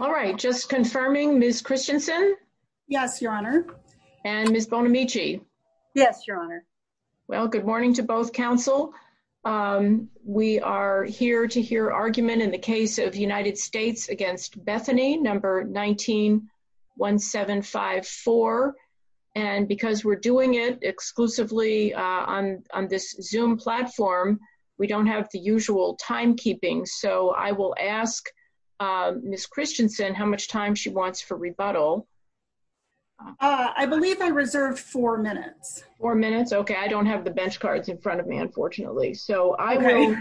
All right, just confirming Ms. Christensen? Yes, your honor. And Ms. Bonamici? Yes, your honor. Well, good morning to both counsel. We are here to hear argument in the case of United States against Bethany, number 191754. And because we're doing it exclusively on this zoom platform, we don't have the usual timekeeping. So I will ask Ms. Christensen how much time she wants for rebuttal. I believe I reserved four minutes or minutes. Okay, I don't have the bench cards in front of me, unfortunately. So I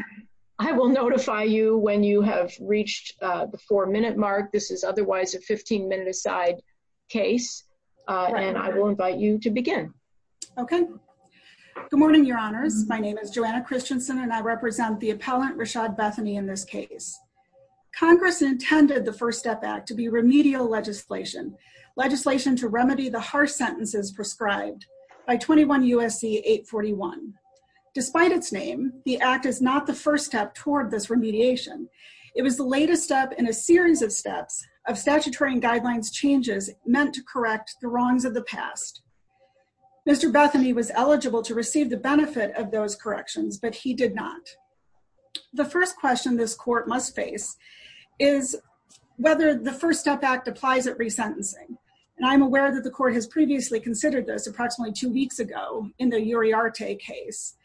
will notify you when you have reached the four minute mark. This is otherwise a 15 minute aside case. And I will Christensen and I represent the appellant Rashad Bethany in this case. Congress intended the First Step Act to be remedial legislation, legislation to remedy the harsh sentences prescribed by 21 USC 841. Despite its name, the act is not the first step toward this remediation. It was the latest step in a series of steps of statutory and guidelines changes meant to correct the wrongs of the past. Mr. Bethany was eligible to receive the benefit of those corrections, but he did not. The first question this court must face is whether the First Step Act applies at resentencing. And I'm aware that the court has previously considered this approximately two weeks ago in the Uriarte case.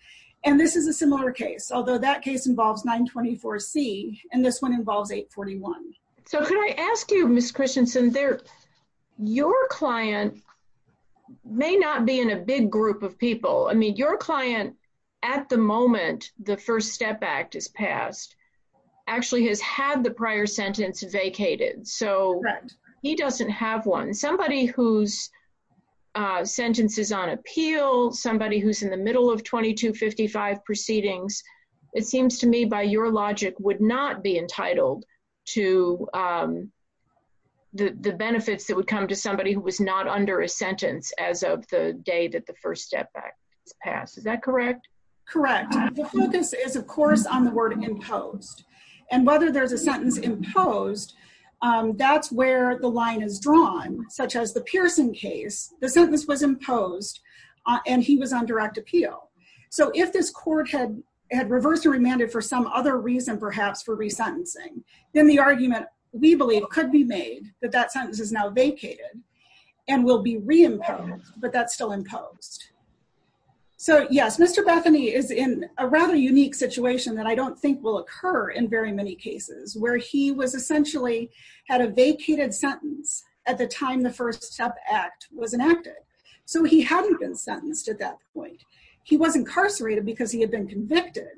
And this is a similar case, although that case involves 924 C, and this one involves 841. So can I ask you, Miss Christensen there, your client may not be in a big group of people. I mean, your client, at the moment, the First Step Act is passed, actually has had the prior sentence vacated. So he doesn't have one somebody who's sentences on appeal, somebody who's in the middle of 2255 proceedings, it seems to me by your logic would not be entitled to the benefits that would come to somebody who was not under a sentence as of the day that the First Step Act is passed. Is that correct? Correct. The focus is, of course, on the word imposed. And whether there's a sentence imposed, that's where the line is drawn, such as the Pearson case, the sentence was imposed, and he was on direct appeal. So if this court had had reversed or remanded for some other reason, perhaps for resentencing, then the argument, we believe could be made that that sentence is now vacated, and will be reimposed, but that's still imposed. So yes, Mr. Bethany is in a rather unique situation that I don't think will occur in very many cases where he was essentially had a vacated sentence at the time the First Step Act was enacted. So he hadn't been sentenced at that point. He was incarcerated because he had been convicted,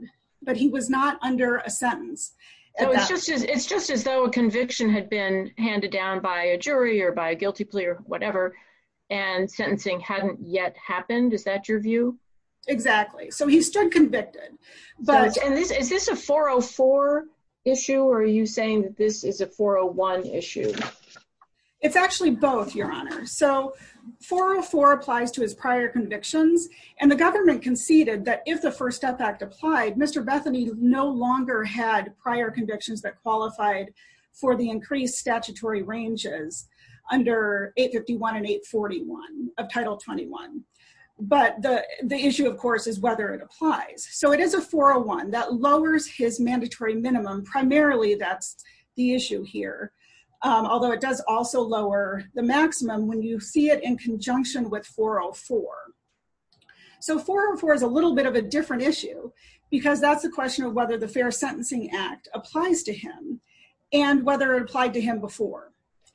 but he was not under a sentence. It's just as though a conviction had been handed down by a jury or by a guilty plea or whatever, and sentencing hadn't yet happened. Is that your view? Exactly. So he stood convicted. And is this a 404 issue, or are you saying that this is a 401 issue? It's actually both, Your Honor. So 404 applies to his prior convictions, and the government conceded that if the First Step Act applied, Mr. Bethany no longer had prior convictions that qualified for the increased statutory ranges under 851 and 841 of Title 21. But the issue, of course, is whether it applies. So it is a 401 that lowers his mandatory minimum. Primarily, that's the issue here, although it does also lower the maximum when you see it in conjunction with 404. So 404 is a little bit of a different issue because that's the question of whether the Fair Sentencing Act applies to him and whether it applied to him before.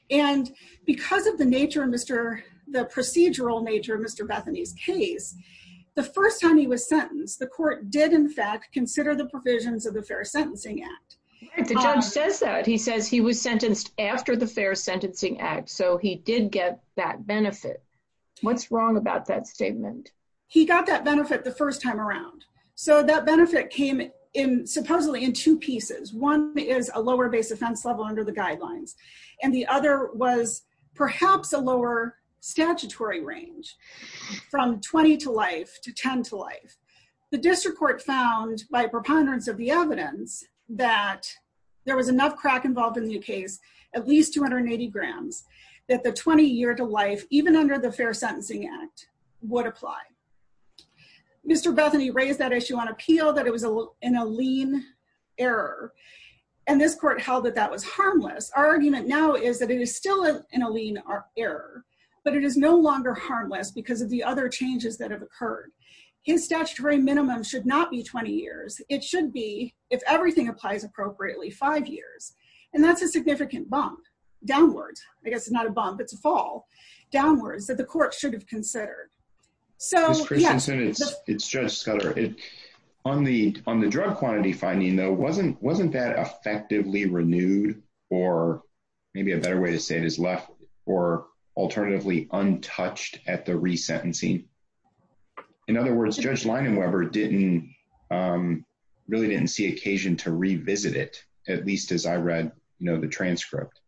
And because of the nature the procedural nature of Mr. Bethany's case, the first time he was sentenced, the court did, in fact, consider the provisions of the Fair Sentencing Act. The judge says that. He says he was sentenced after the Fair Sentencing Act, so he did get that benefit. What's wrong about that statement? He got that benefit the first time around. So that benefit came supposedly in two pieces. One is a lower base offense level under the guidelines, and the other was perhaps a lower statutory range from 20 to life to 10 to life. The district court found by preponderance of the evidence that there was enough crack involved in the case, at least 280 grams, that the 20 year to life, even under the Fair Sentencing Act, would apply. Mr. Bethany raised that issue on appeal, that it was in a lean error. And this court held that that was harmless. Our argument now is that it is still in a lean error, but it is no longer harmless because of the other changes that have occurred. His statutory minimum should not be 20 years. It should be, if everything applies appropriately, five years. And that's a significant bump downwards. I guess it's not a bump, it's a fall downwards that the court should have considered. Ms. Christensen, it's Judge Scudder. On the drug quantity finding though, wasn't that effectively renewed, or maybe a better way to say it is left, or alternatively untouched at the resentencing? In other words, Judge Leinenweber really didn't see occasion to revisit it, at least as I read the transcript.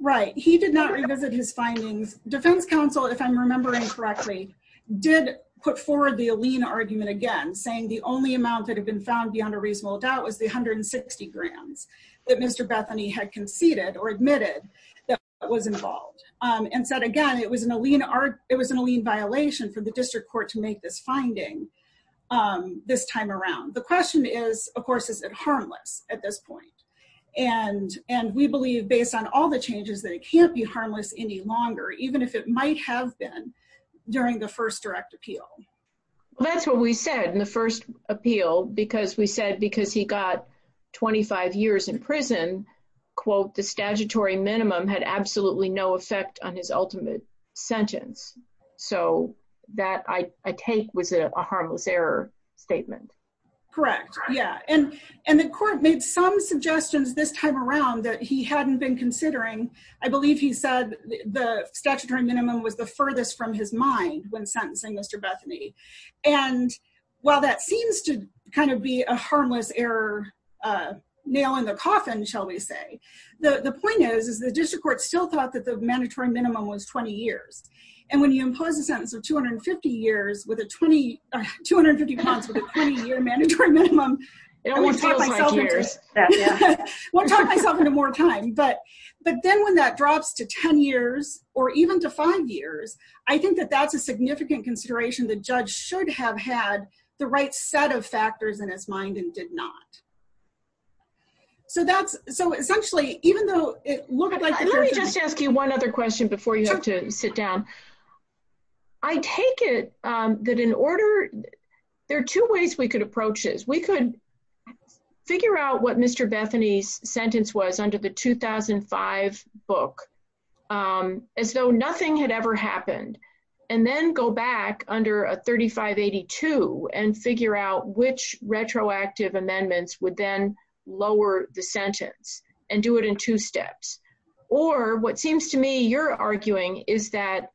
Right. He did not revisit his findings. Defense counsel, if I'm remembering correctly, did put forward the lean argument again, saying the only amount that had been found beyond a reasonable doubt was the 160 grands that Mr. Bethany had conceded or admitted that was involved. And said again, it was in a lean violation for the district court to make this finding this time around. The question is, of course, is it harmless at this point? And we believe based on all the changes that it can't be harmless any longer, even if it might have been during the first direct appeal. That's what we said in the first appeal, because we said because he got 25 years in prison, quote, the statutory minimum had absolutely no effect on his ultimate sentence. So, that I take was a harmless error statement. Correct. Yeah. And the court made some considering. I believe he said the statutory minimum was the furthest from his mind when sentencing Mr. Bethany. And while that seems to kind of be a harmless error nail in the coffin, shall we say, the point is, is the district court still thought that the mandatory minimum was 20 years. And when you impose a sentence of 250 years with a 20, 250 months with a 20 year mandatory minimum, I won't talk myself into more time. But then when that drops to 10 years, or even to five years, I think that that's a significant consideration the judge should have had the right set of factors in his mind and did not. So that's so essentially, even though it looked like. Let me just ask you one other question before you have to sit down. I take it that in We could figure out what Mr. Bethany's sentence was under the 2005 book, as though nothing had ever happened. And then go back under a 3582 and figure out which retroactive amendments would then lower the sentence and do it in two steps. Or what seems to me you're arguing is that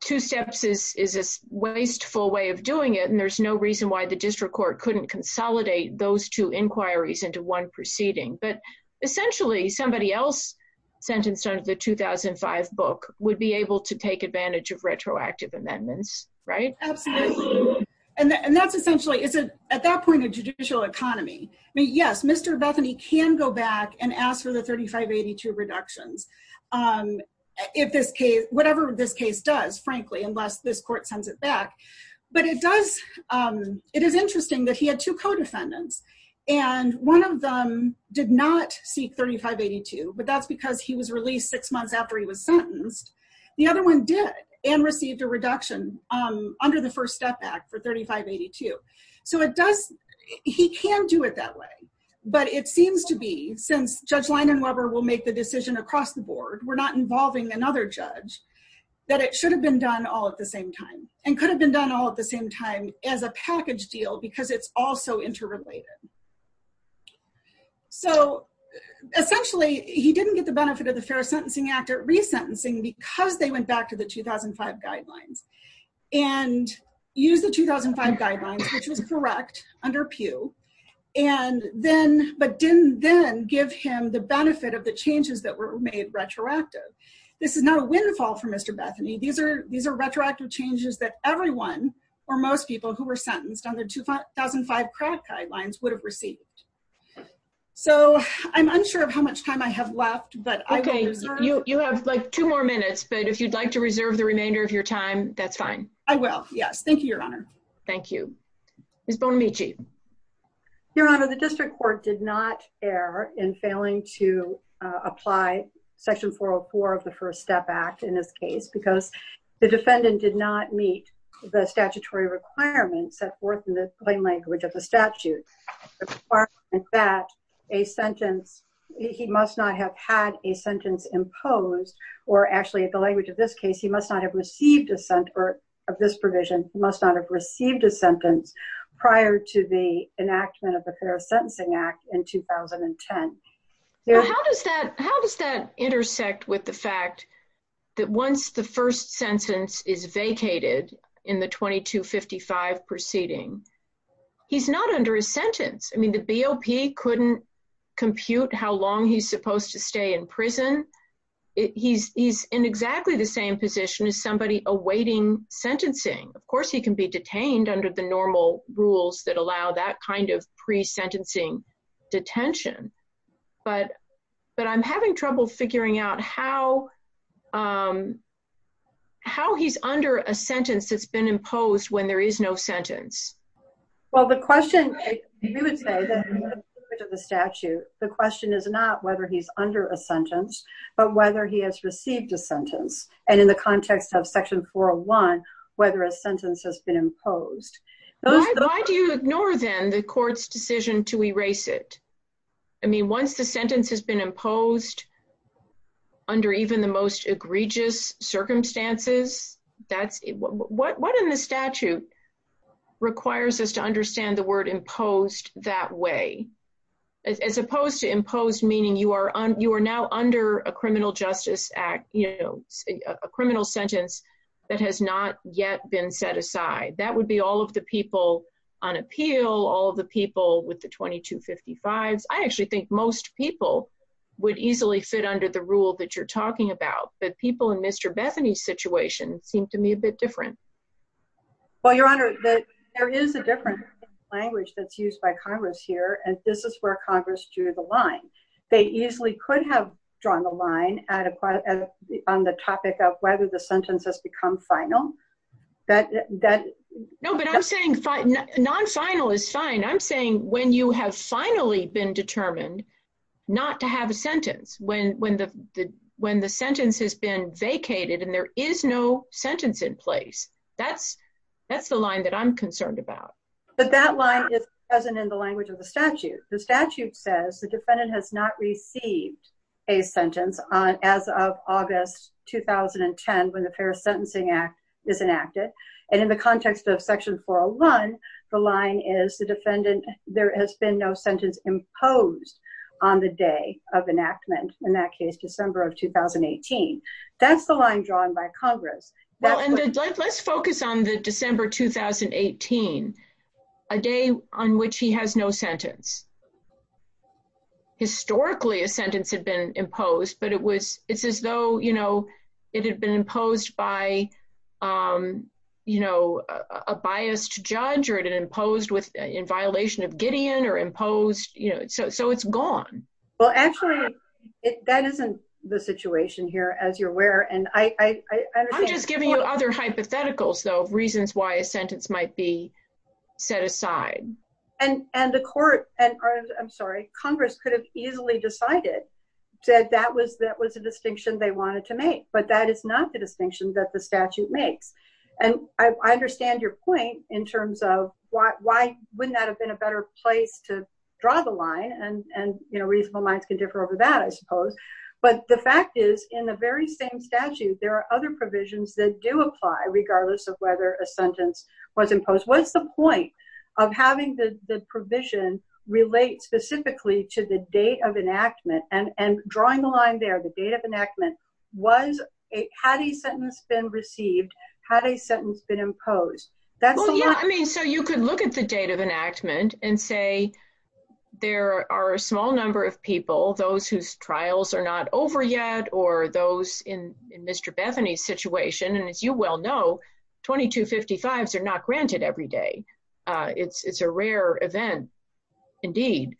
two steps is is a wasteful way of doing it. And there's no reason why the district court couldn't consolidate those two inquiries into one proceeding. But essentially, somebody else sentenced under the 2005 book would be able to take advantage of retroactive amendments, right? Absolutely. And that's essentially it's a at that point, a judicial economy. I mean, yes, Mr. Bethany can go back and ask for the 3582 reductions. If this case, whatever this case does, frankly, unless this court sends it back. But it does. It is interesting that he had two co defendants. And one of them did not seek 3582. But that's because he was released six months after he was sentenced. The other one did and received a reduction under the First Step Act for 3582. So it does. He can do it that way. But it seems to be since Judge Lyndon Weber will make the decision across the board, we're not involving another judge, that it should have been done all at the same time, and could have been done all at the same time as a package deal, because it's also interrelated. So essentially, he didn't get the benefit of the Fair Sentencing Act or resentencing because they went back to the 2005 guidelines, and use the 2005 guidelines, which was correct under Pew, and then but didn't then give him the benefit of the changes that were made retroactive. This is not a windfall for Mr. Bethany, these are these are retroactive changes that everyone, or most people who were sentenced under 2005 crack guidelines would have received. So I'm unsure of how much time I have left, but okay, you have like two more minutes. But if you'd like to reserve the remainder of your time, that's fine. I will. Yes. Thank you, Your Honor. Thank you. Is Bonamici. Your Honor, the district court did not err in failing to apply Section 404 of the First Step Act in this case, because the defendant did not meet the statutory requirements set forth in the plain language of the statute that a sentence, he must not have had a sentence imposed, or actually at the language of this case, he must not have received a sentence, or of this provision, must not have received a sentence prior to the enactment of the Fair Sentencing Act in 2010. How does that intersect with the fact that once the first sentence is vacated in the 2255 proceeding, he's not under a sentence? I mean, the BOP couldn't compute how long he's supposed to stay in prison. He's in exactly the same position as somebody awaiting sentencing. Of course, he can be detained under the normal rules that allow that kind of pre-sentencing detention. But I'm having trouble figuring out how he's under a sentence that's been imposed when there is no sentence. Well, the question, we would say that the statute, the question is not whether he's under a sentence, but whether he has received a sentence. And in the context of Section 401, whether a sentence has been imposed. Why do you ignore, then, the court's decision to erase it? I mean, once the sentence has been imposed under even the most egregious circumstances, that's, what in the statute requires us to understand the word imposed that way? As opposed to imposed meaning you are now under a criminal justice act, a criminal sentence that has not yet been set aside. That would be all of the people on appeal, all of the people with the 2255s. I actually think most people would easily fit under the rule that you're talking about. But people in Mr. Bethany's situation seem to me a bit different. Well, Your Honor, there is a different language that's used by Congress here. And this is where Congress drew the line. They easily could have drawn the line on the topic of whether the sentence has become final. No, but I'm saying non-final is fine. I'm saying when you have finally been determined not to have a sentence, when the sentence has been vacated and there is no sentence in place, that's the line that I'm concerned about. But that line is present in the language of the statute. The statute says the defendant has not received a sentence as of August 2010 when the Fair Sentencing Act is enacted. And in the context of section 401, the line is the defendant, there has been no sentence imposed on the day of enactment, in that case, December of 2018. That's the line drawn by Congress. Well, and let's focus on the December 2018, a day on which he has no sentence. Historically, a sentence had been imposed, but it's as though it had been imposed by a biased judge or it had been imposed in the situation here, as you're aware. And I'm just giving you other hypotheticals, though, of reasons why a sentence might be set aside. And the court, and I'm sorry, Congress could have easily decided that that was a distinction they wanted to make. But that is not the distinction that the statute makes. And I understand your point in terms of why wouldn't that have been a better place to draw the line. And reasonable minds can differ over that, I suppose. But the fact is, in the very same statute, there are other provisions that do apply, regardless of whether a sentence was imposed. What's the point of having the provision relate specifically to the date of enactment? And drawing the line there, the date of enactment, had a sentence been received, had a sentence been imposed? Well, yeah, I mean, so you could look at the date of enactment and say, there are a small number of people, those whose trials are not over yet, or those in Mr. Bethany's situation, and as you well know, 2255s are not granted every day. It's a rare event, indeed.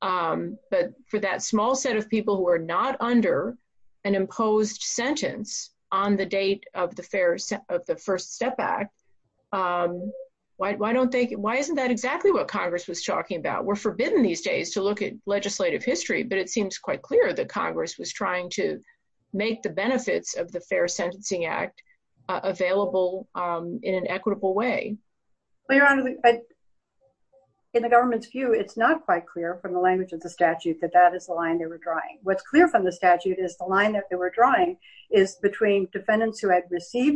But for that small set of people who are not under an imposed sentence on the date of the First Step Act, why isn't that exactly what Congress was talking about? We're forbidden these days to look at legislative history, but it seems quite clear that Congress was trying to make the benefits of the Fair Sentencing Act available in an equitable way. Well, Your Honor, in the government's view, it's not quite clear from the language of the statute that that is the line they were drawing. What's clear from the statute is the line that they were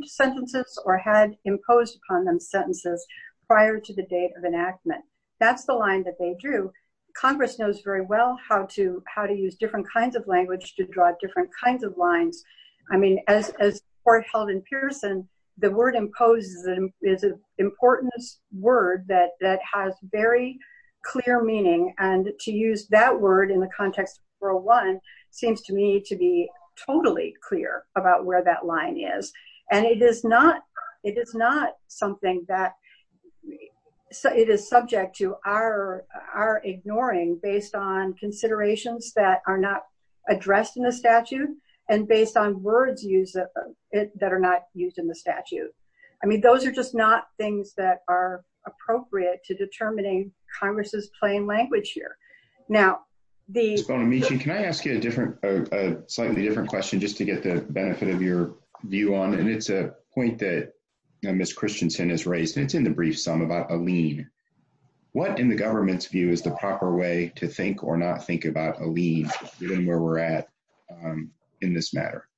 sentences or had imposed upon them sentences prior to the date of enactment. That's the line that they drew. Congress knows very well how to use different kinds of language to draw different kinds of lines. I mean, as the Court held in Pearson, the word imposed is an important word that has very clear meaning, and to use that word in the context of 401 seems to me to be it is not something that it is subject to our ignoring based on considerations that are not addressed in the statute and based on words that are not used in the statute. I mean, those are just not things that are appropriate to determining Congress's plain language here. Ms. Bonamici, can I ask you a slightly different question just to get the benefit of your view on, and it's a point that Ms. Christensen has raised, and it's in the brief sum about a lien. What, in the government's view, is the proper way to think or not think about a lien given where we're at in this matter?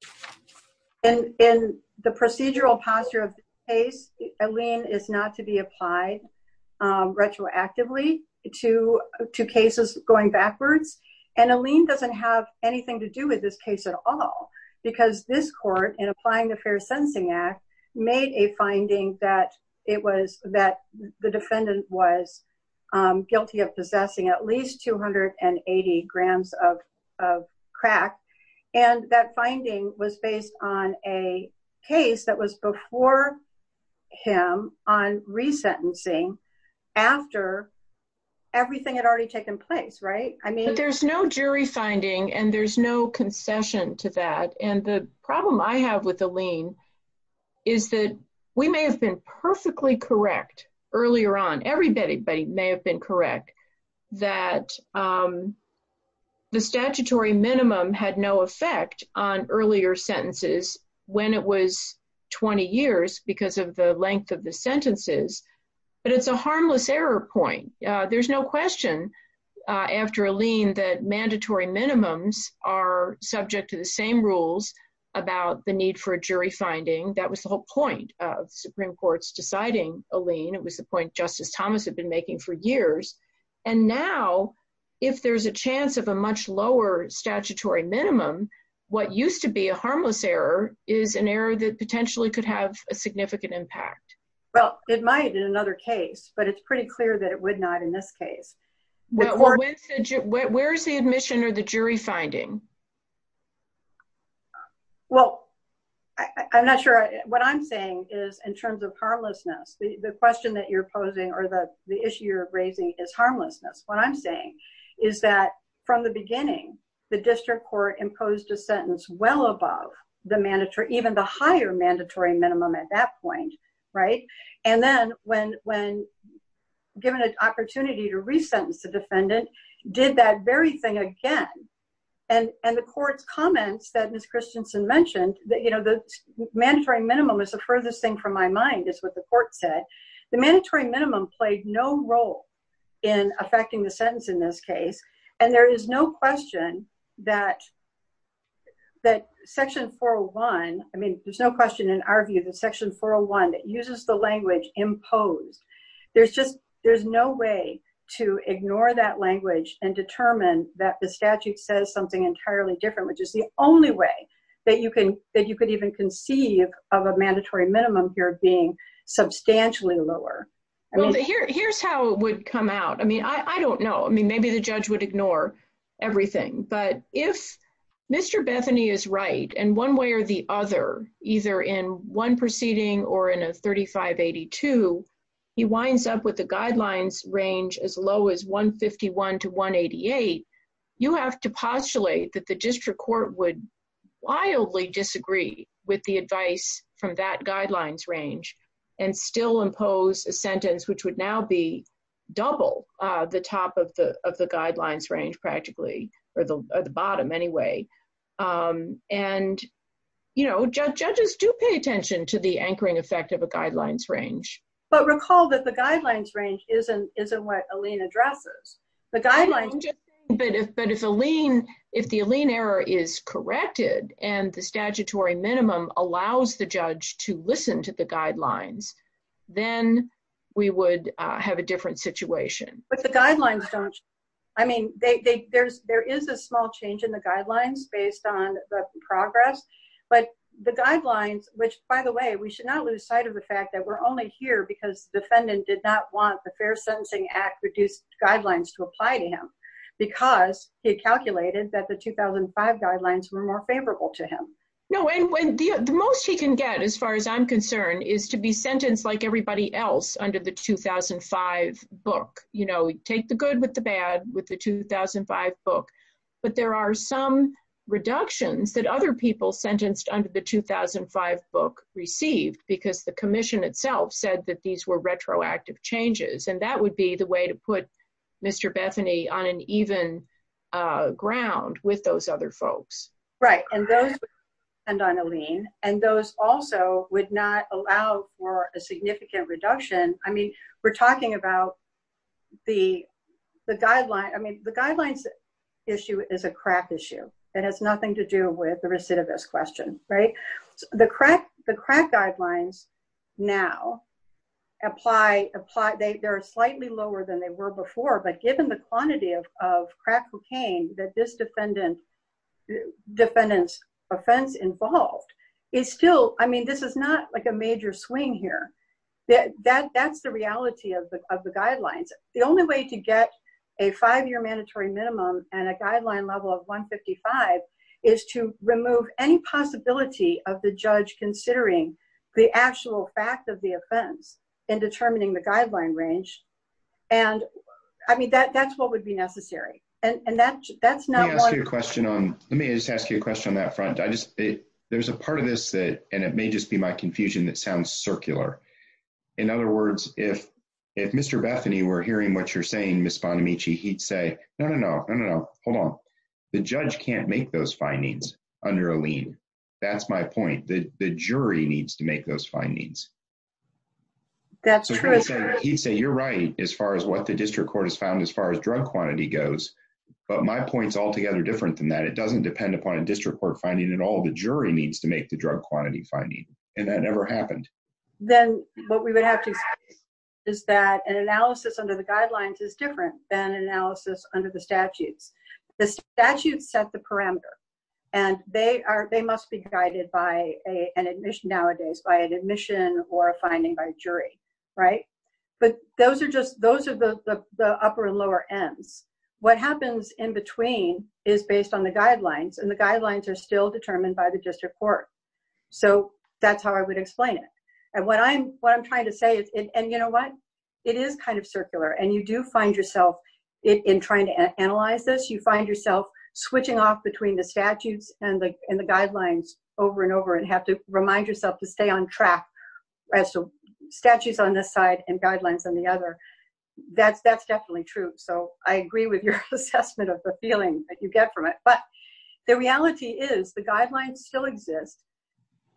In the procedural posture of this case, a lien is not to be applied retroactively to cases going backwards, and a lien doesn't have anything to do with this case at all because this Court, in applying the Fair Sentencing Act, made a finding that the defendant was guilty of possessing at least 280 grams of crack, and that finding was based on a case that was before him on resentencing after everything had already taken place, right? But there's no jury finding and there's no concession to that, and the problem I have with the lien is that we may have been perfectly correct earlier on, everybody may have been correct, that the statutory minimum had no effect on earlier sentences when it was 20 years because of the length of the sentences, but it's a harmless error point. There's no question after a lien that mandatory minimums are subject to the same rules about the need for a jury finding. That was the whole point of Supreme Court's deciding a lien. It was the point Justice Thomas had been making for years, and now, if there's a chance of a much lower statutory minimum, what used to be a harmless error is an error that potentially could have a significant impact. Well, it might in another case, but it's pretty clear that it would not in this case. Where is the admission or the jury finding? Well, I'm not sure. What I'm saying is, in terms of harmlessness, the question that you're posing or the issue you're raising is harmlessness. What I'm saying is that from the beginning, the district court imposed a sentence well above the mandatory, even the higher mandatory minimum at that point, and then when given an opportunity to resentence the defendant, did that very thing again. The court's comments that Ms. Christensen mentioned, the mandatory minimum is the furthest thing from my mind, is what the court said. The mandatory minimum played no role in affecting the sentence in this case, and there is no question that Section 401, there's no question in our view that Section 401 that uses the language imposed. There's no way to ignore that language and determine that the statute says something entirely different, which is the only way that you could even conceive of a mandatory minimum here being substantially lower. Here's how it would come out. I mean, I don't know. Maybe the judge would ignore everything, but if Mr. Bethany is right in one way or the other, either in one proceeding or in a 3582, he winds up with the guidelines range as low as 151 to 188, you have to postulate that the district court would wildly disagree with the advice from that guidelines range and still impose a sentence which would now be double the top of the guidelines range practically, or the bottom anyway. Judges do pay attention to the anchoring effect of a guidelines range. But recall that the guidelines range isn't what Aline addresses. The guidelines- But if the Aline error is corrected and the statutory minimum allows the judge to listen to the guidelines, then we would have a different situation. But the guidelines don't- I mean, there is a small change in the guidelines based on the progress, but the guidelines, which by the way, we should not lose sight of the fact that we're only here because the defendant did not want the Fair Sentencing Act reduced guidelines to apply to him because he calculated that the 2005 guidelines were more favorable to him. No, and when the most he can get, as far as I'm concerned, is to be sentenced like everybody else under the 2005 book, you know, take the good with the bad with the 2005 book. But there are some reductions that other people sentenced under the 2005 book received because the commission itself said that these were retroactive changes. And that would be the way to put Mr. Bethany on an even ground with those other folks. Right, and those- And on Aline. And those also would not allow for a significant reduction. I mean, we're talking about the guidelines- I mean, the guidelines issue is a crack issue. It has nothing to do with the recidivist question, right? The crack guidelines now apply- they are slightly lower than they were before, but given the quantity of crack cocaine that this defendant's offense involved, it's still- I mean, this is not like a major swing here. That's the reality of the guidelines. The only way to get a five-year mandatory minimum and a guideline level of 155 is to remove any possibility of the judge considering the actual fact of the offense in determining the guideline range. And I mean, that's what would be necessary. And that's not- Let me ask you a question on- let me just ask you a question on that front. I just- there's a part of this that- and it may just be my confusion- that sounds circular. In other words, if Mr. Bethany were hearing what you're saying, Ms. Bonamici, he'd say, no, no, no, no, no, no, hold on. The judge can't make those findings under Aline. That's my point. The jury needs to make those findings. That's true. He'd say you're right as far as what the district court has found as far as drug quantity goes, but my point's altogether different than that. It doesn't depend upon a district court finding at all. The jury needs to make the drug quantity finding, and that never happened. Then what we would have to say is that an analysis under the guidelines is different than an analysis under the statutes. The statutes set the parameter, and they are- they must be a- an admission nowadays by an admission or a finding by a jury, right? But those are just- those are the upper and lower ends. What happens in between is based on the guidelines, and the guidelines are still determined by the district court. So that's how I would explain it. And what I'm- what I'm trying to say is- and you know what? It is kind of circular, and you do find yourself- in trying to analyze this, you find yourself switching off between the statutes and the guidelines over and over, and have to remind yourself to stay on track as to statutes on this side and guidelines on the other. That's- that's definitely true. So I agree with your assessment of the feeling that you get from it, but the reality is the guidelines still exist.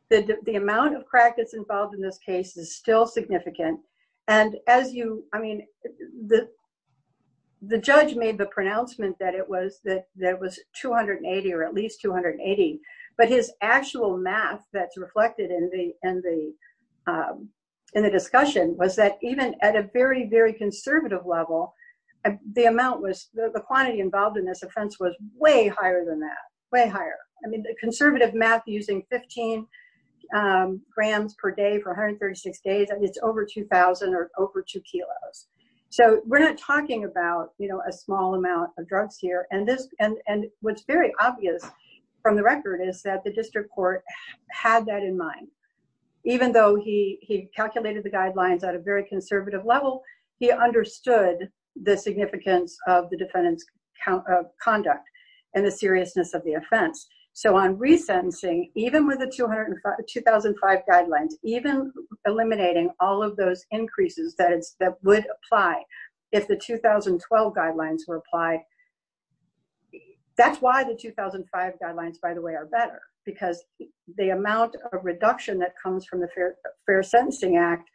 The amount of crack that's involved in this case is still significant, and as you- at least 280, but his actual math that's reflected in the- in the discussion was that even at a very, very conservative level, the amount was- the quantity involved in this offense was way higher than that, way higher. I mean, the conservative math using 15 grams per day for 136 days, I mean, it's over 2,000 or over two kilos. So we're not talking about, you know, a small amount of drugs here, and this- and- and what's very obvious from the record is that the district court had that in mind. Even though he- he calculated the guidelines at a very conservative level, he understood the significance of the defendant's conduct and the seriousness of the offense. So on resentencing, even with the 200- 2005 guidelines, even eliminating all of those increases that it's- that would apply if the 2012 guidelines were applied. That's why the 2005 guidelines, by the way, are better, because the amount of reduction that comes from the Fair- Fair Sentencing Act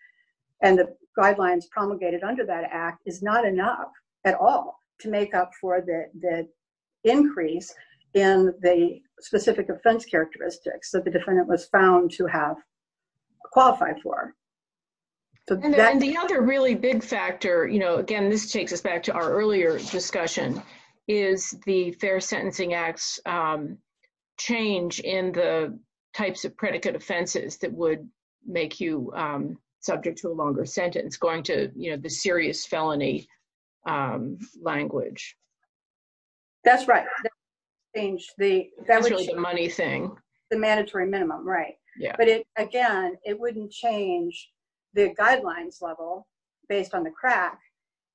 and the guidelines promulgated under that act is not enough at all to make up for the- the increase in the specific offense characteristics that the defendant was found to have qualified for. So that- And the other really big factor, you know, again, this takes us back to our earlier discussion, is the Fair Sentencing Act's change in the types of predicate offenses that would make you subject to a longer sentence, going to, you know, the serious felony language. That's right. That would change the- That's really the money thing. The mandatory minimum, right. Yeah. But it, again, it wouldn't change the guidelines level based on the crack.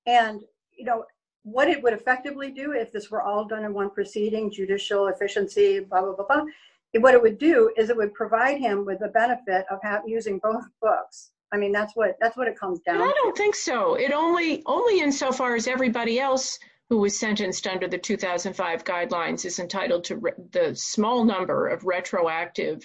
And, you know, what it would effectively do if this were all done in one proceeding, judicial efficiency, blah, blah, blah, what it would do is it would provide him with the benefit of having- using both books. I mean, that's what- that's what it comes down to. But I don't think so. It only- only insofar as everybody else who was sentenced under the 2005 guidelines is entitled to the small number of years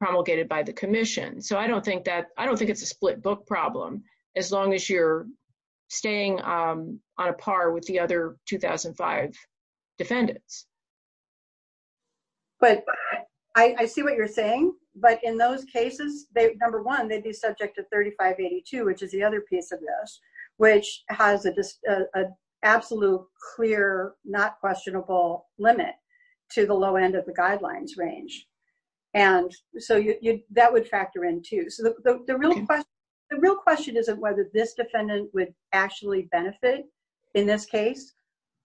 promulgated by the commission. So I don't think that- I don't think it's a split book problem as long as you're staying on a par with the other 2005 defendants. But I see what you're saying. But in those cases, they- number one, they'd be subject to 3582, which is the other piece of this, which has a just- an absolute clear, not questionable limit to the low end of the guidelines range. And so you- that would factor in, too. So the real question- the real question isn't whether this defendant would actually benefit in this case,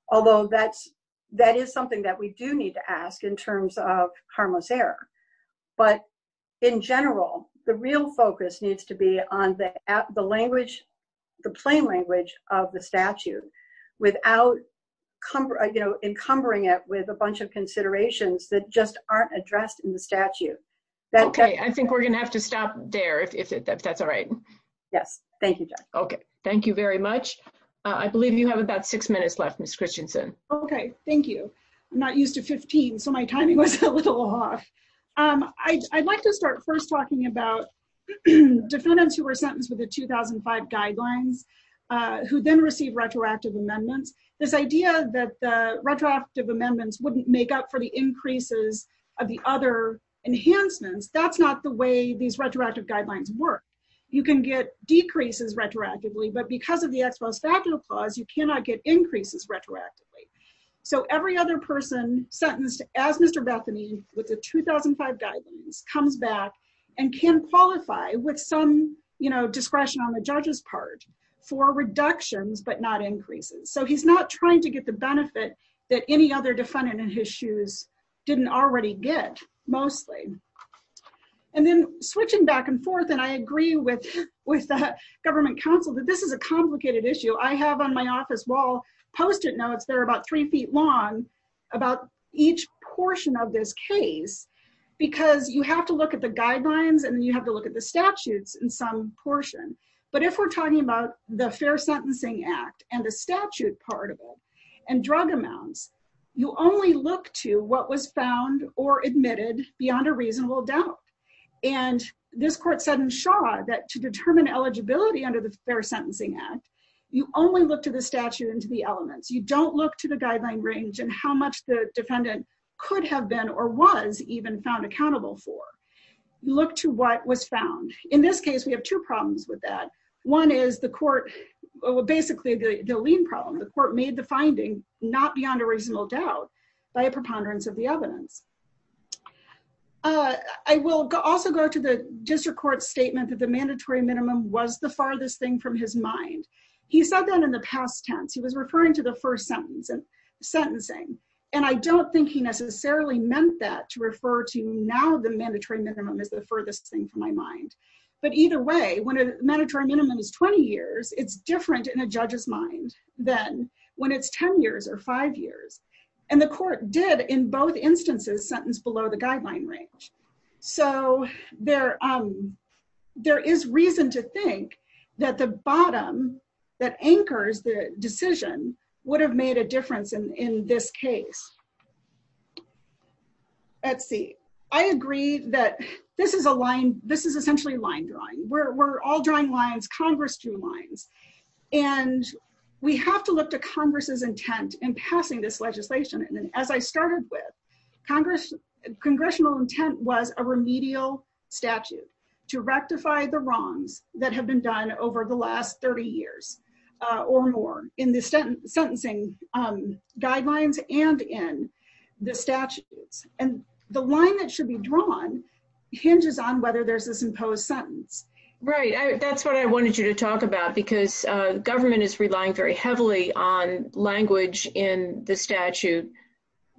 although that's- that is something that we do need to ask in terms of harmless error. But in general, the real focus needs to be on the language- the plain language of the statute without, you know, encumbering it with a bunch of considerations that just aren't addressed in the statute. Okay. I think we're going to have to stop there, if that's all right. Yes. Thank you, Judge. Okay. Thank you very much. I believe you have about six minutes left, Ms. Christensen. Okay. Thank you. I'm not used to 15, so my timing was a little off. I'd like to start first talking about defendants who were sentenced with the 2005 guidelines, who then received retroactive amendments. This idea that the retroactive amendments wouldn't make up for the increases of the other enhancements, that's not the way these retroactive guidelines work. You can get decreases retroactively, but because of the Ex Post Factual Clause, you cannot get increases retroactively. So every other person sentenced as Mr. Bethany with the 2005 guidelines comes back and can qualify with some, you know, for reductions, but not increases. So he's not trying to get the benefit that any other defendant in his shoes didn't already get, mostly. And then switching back and forth, and I agree with the government counsel that this is a complicated issue. I have on my office wall post-it notes that are about three feet long about each portion of this case, because you have to look at the guidelines and you have to look at the statutes in some portion. But if we're talking about the Fair Sentencing Act and the statute part of it, and drug amounts, you only look to what was found or admitted beyond a reasonable doubt. And this court said in Shaw that to determine eligibility under the Fair Sentencing Act, you only look to the statute and to the elements. You don't look to the guideline range and how much the defendant could have been or was even found accountable for. You look to what was found. In this case, we have two problems with that. One is the court, well, basically the lien problem. The court made the finding not beyond a reasonable doubt by a preponderance of the evidence. I will also go to the district court's statement that the mandatory minimum was the farthest thing from his mind. He said that in the past tense. He was referring to the first sentence and I don't think he necessarily meant that to refer to now the mandatory minimum as the furthest thing from my mind. But either way, when a mandatory minimum is 20 years, it's different in a judge's mind than when it's 10 years or five years. And the court did in both instances sentence below the guideline range. So there is reason to think that the bottom that anchors the case. Let's see. I agree that this is essentially line drawing. We're all drawing lines. Congress drew lines. And we have to look to Congress's intent in passing this legislation. And as I started with, congressional intent was a remedial statute to rectify the wrongs that have been done over the last 30 years or more in the sentencing guidelines and in the statutes. And the line that should be drawn hinges on whether there's this imposed sentence. Right. That's what I wanted you to talk about because government is relying very heavily on language in the statute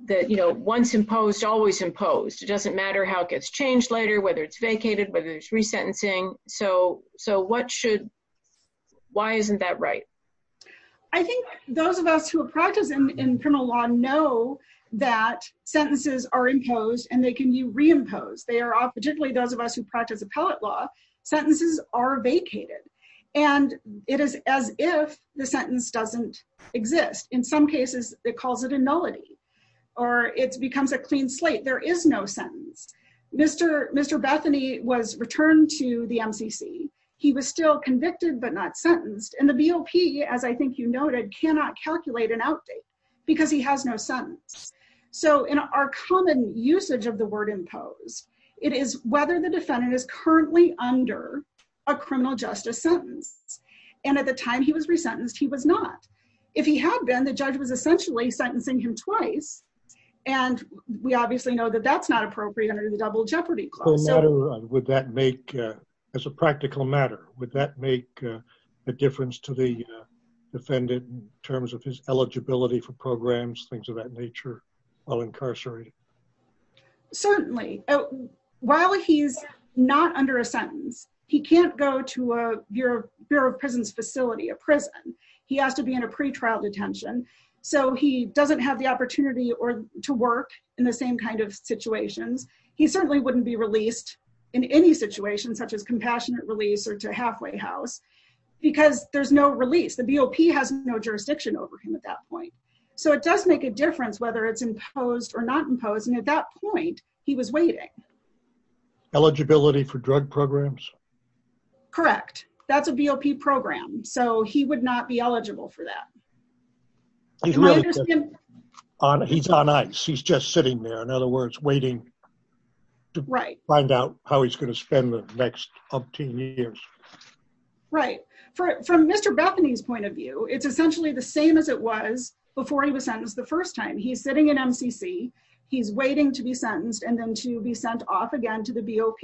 that, you know, once imposed, always imposed. It doesn't matter how it gets changed later, whether it's vacated, whether it's resentencing. So why isn't that right? I think those of us who practice in criminal law know that sentences are imposed and they can be reimposed. Particularly those of us who practice appellate law, sentences are vacated. And it is as if the sentence doesn't exist. In some cases, it calls it a nullity or it becomes a clean slate. There is no sentence. Mr. Bethany was returned to the MCC. He was still convicted but not sentenced. And the BOP, as I think you noted, cannot calculate an outdate because he has no sentence. So in our common usage of the word imposed, it is whether the defendant is currently under a criminal justice sentence. And at the time he was resentenced, he was not. If he had been, the judge was essentially sentencing him twice. And we obviously know that that's not appropriate under the double jeopardy clause. So would that make, as a practical matter, would that make a difference to the defendant in terms of his eligibility for programs, things of that nature while incarcerated? Certainly. While he's not under a sentence, he can't go to a Bureau of Prisons facility, a prison. He has to be in a pretrial detention. So he doesn't have the opportunity to work in the same kind of situations. He certainly wouldn't be released in any situation such as compassionate release or to halfway house because there's no release. The BOP has no jurisdiction over him at that point. So it does make a difference whether it's imposed or not imposed. And at that point, he was waiting. Eligibility for drug programs? Correct. That's a BOP program. So he would not be eligible for that. He's on ice. He's just sitting there. In other words, waiting to find out how he's going to spend the next up to years. Right. From Mr. Bethany's point of view, it's essentially the same as it was before he was sentenced the first time. He's sitting in MCC. He's waiting to be sentenced and then to be sent off again to the BOP.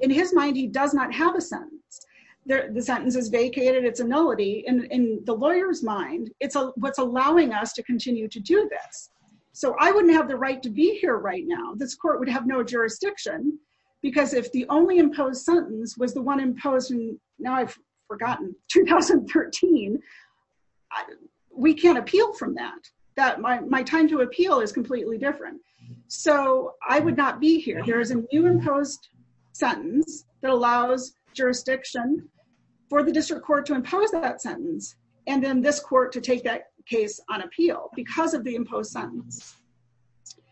In his mind, he does not have a sentence. The sentence is vacated. It's annullity. In the lawyer's mind, it's what's allowing us to continue to do this. So I wouldn't have the right to be here right now. This court would have no jurisdiction because if the only imposed sentence was the one imposed in, now I've forgotten, 2013, we can't appeal from that. My time to appeal is completely different. So I would not be here. There is a new imposed sentence that allows jurisdiction for the district court to impose that sentence and then this court to take that case on appeal because of the imposed sentence.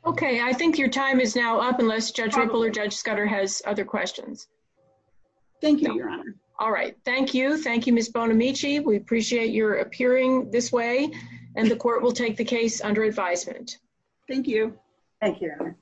Okay. I think your time is now up unless Judge Ripple or Judge Scudder has other questions. Thank you, Your Honor. All right. Thank you. Thank you, Ms. Bonamici. We appreciate your appearing this way and the case under advisement. Thank you. Thank you, Your Honor.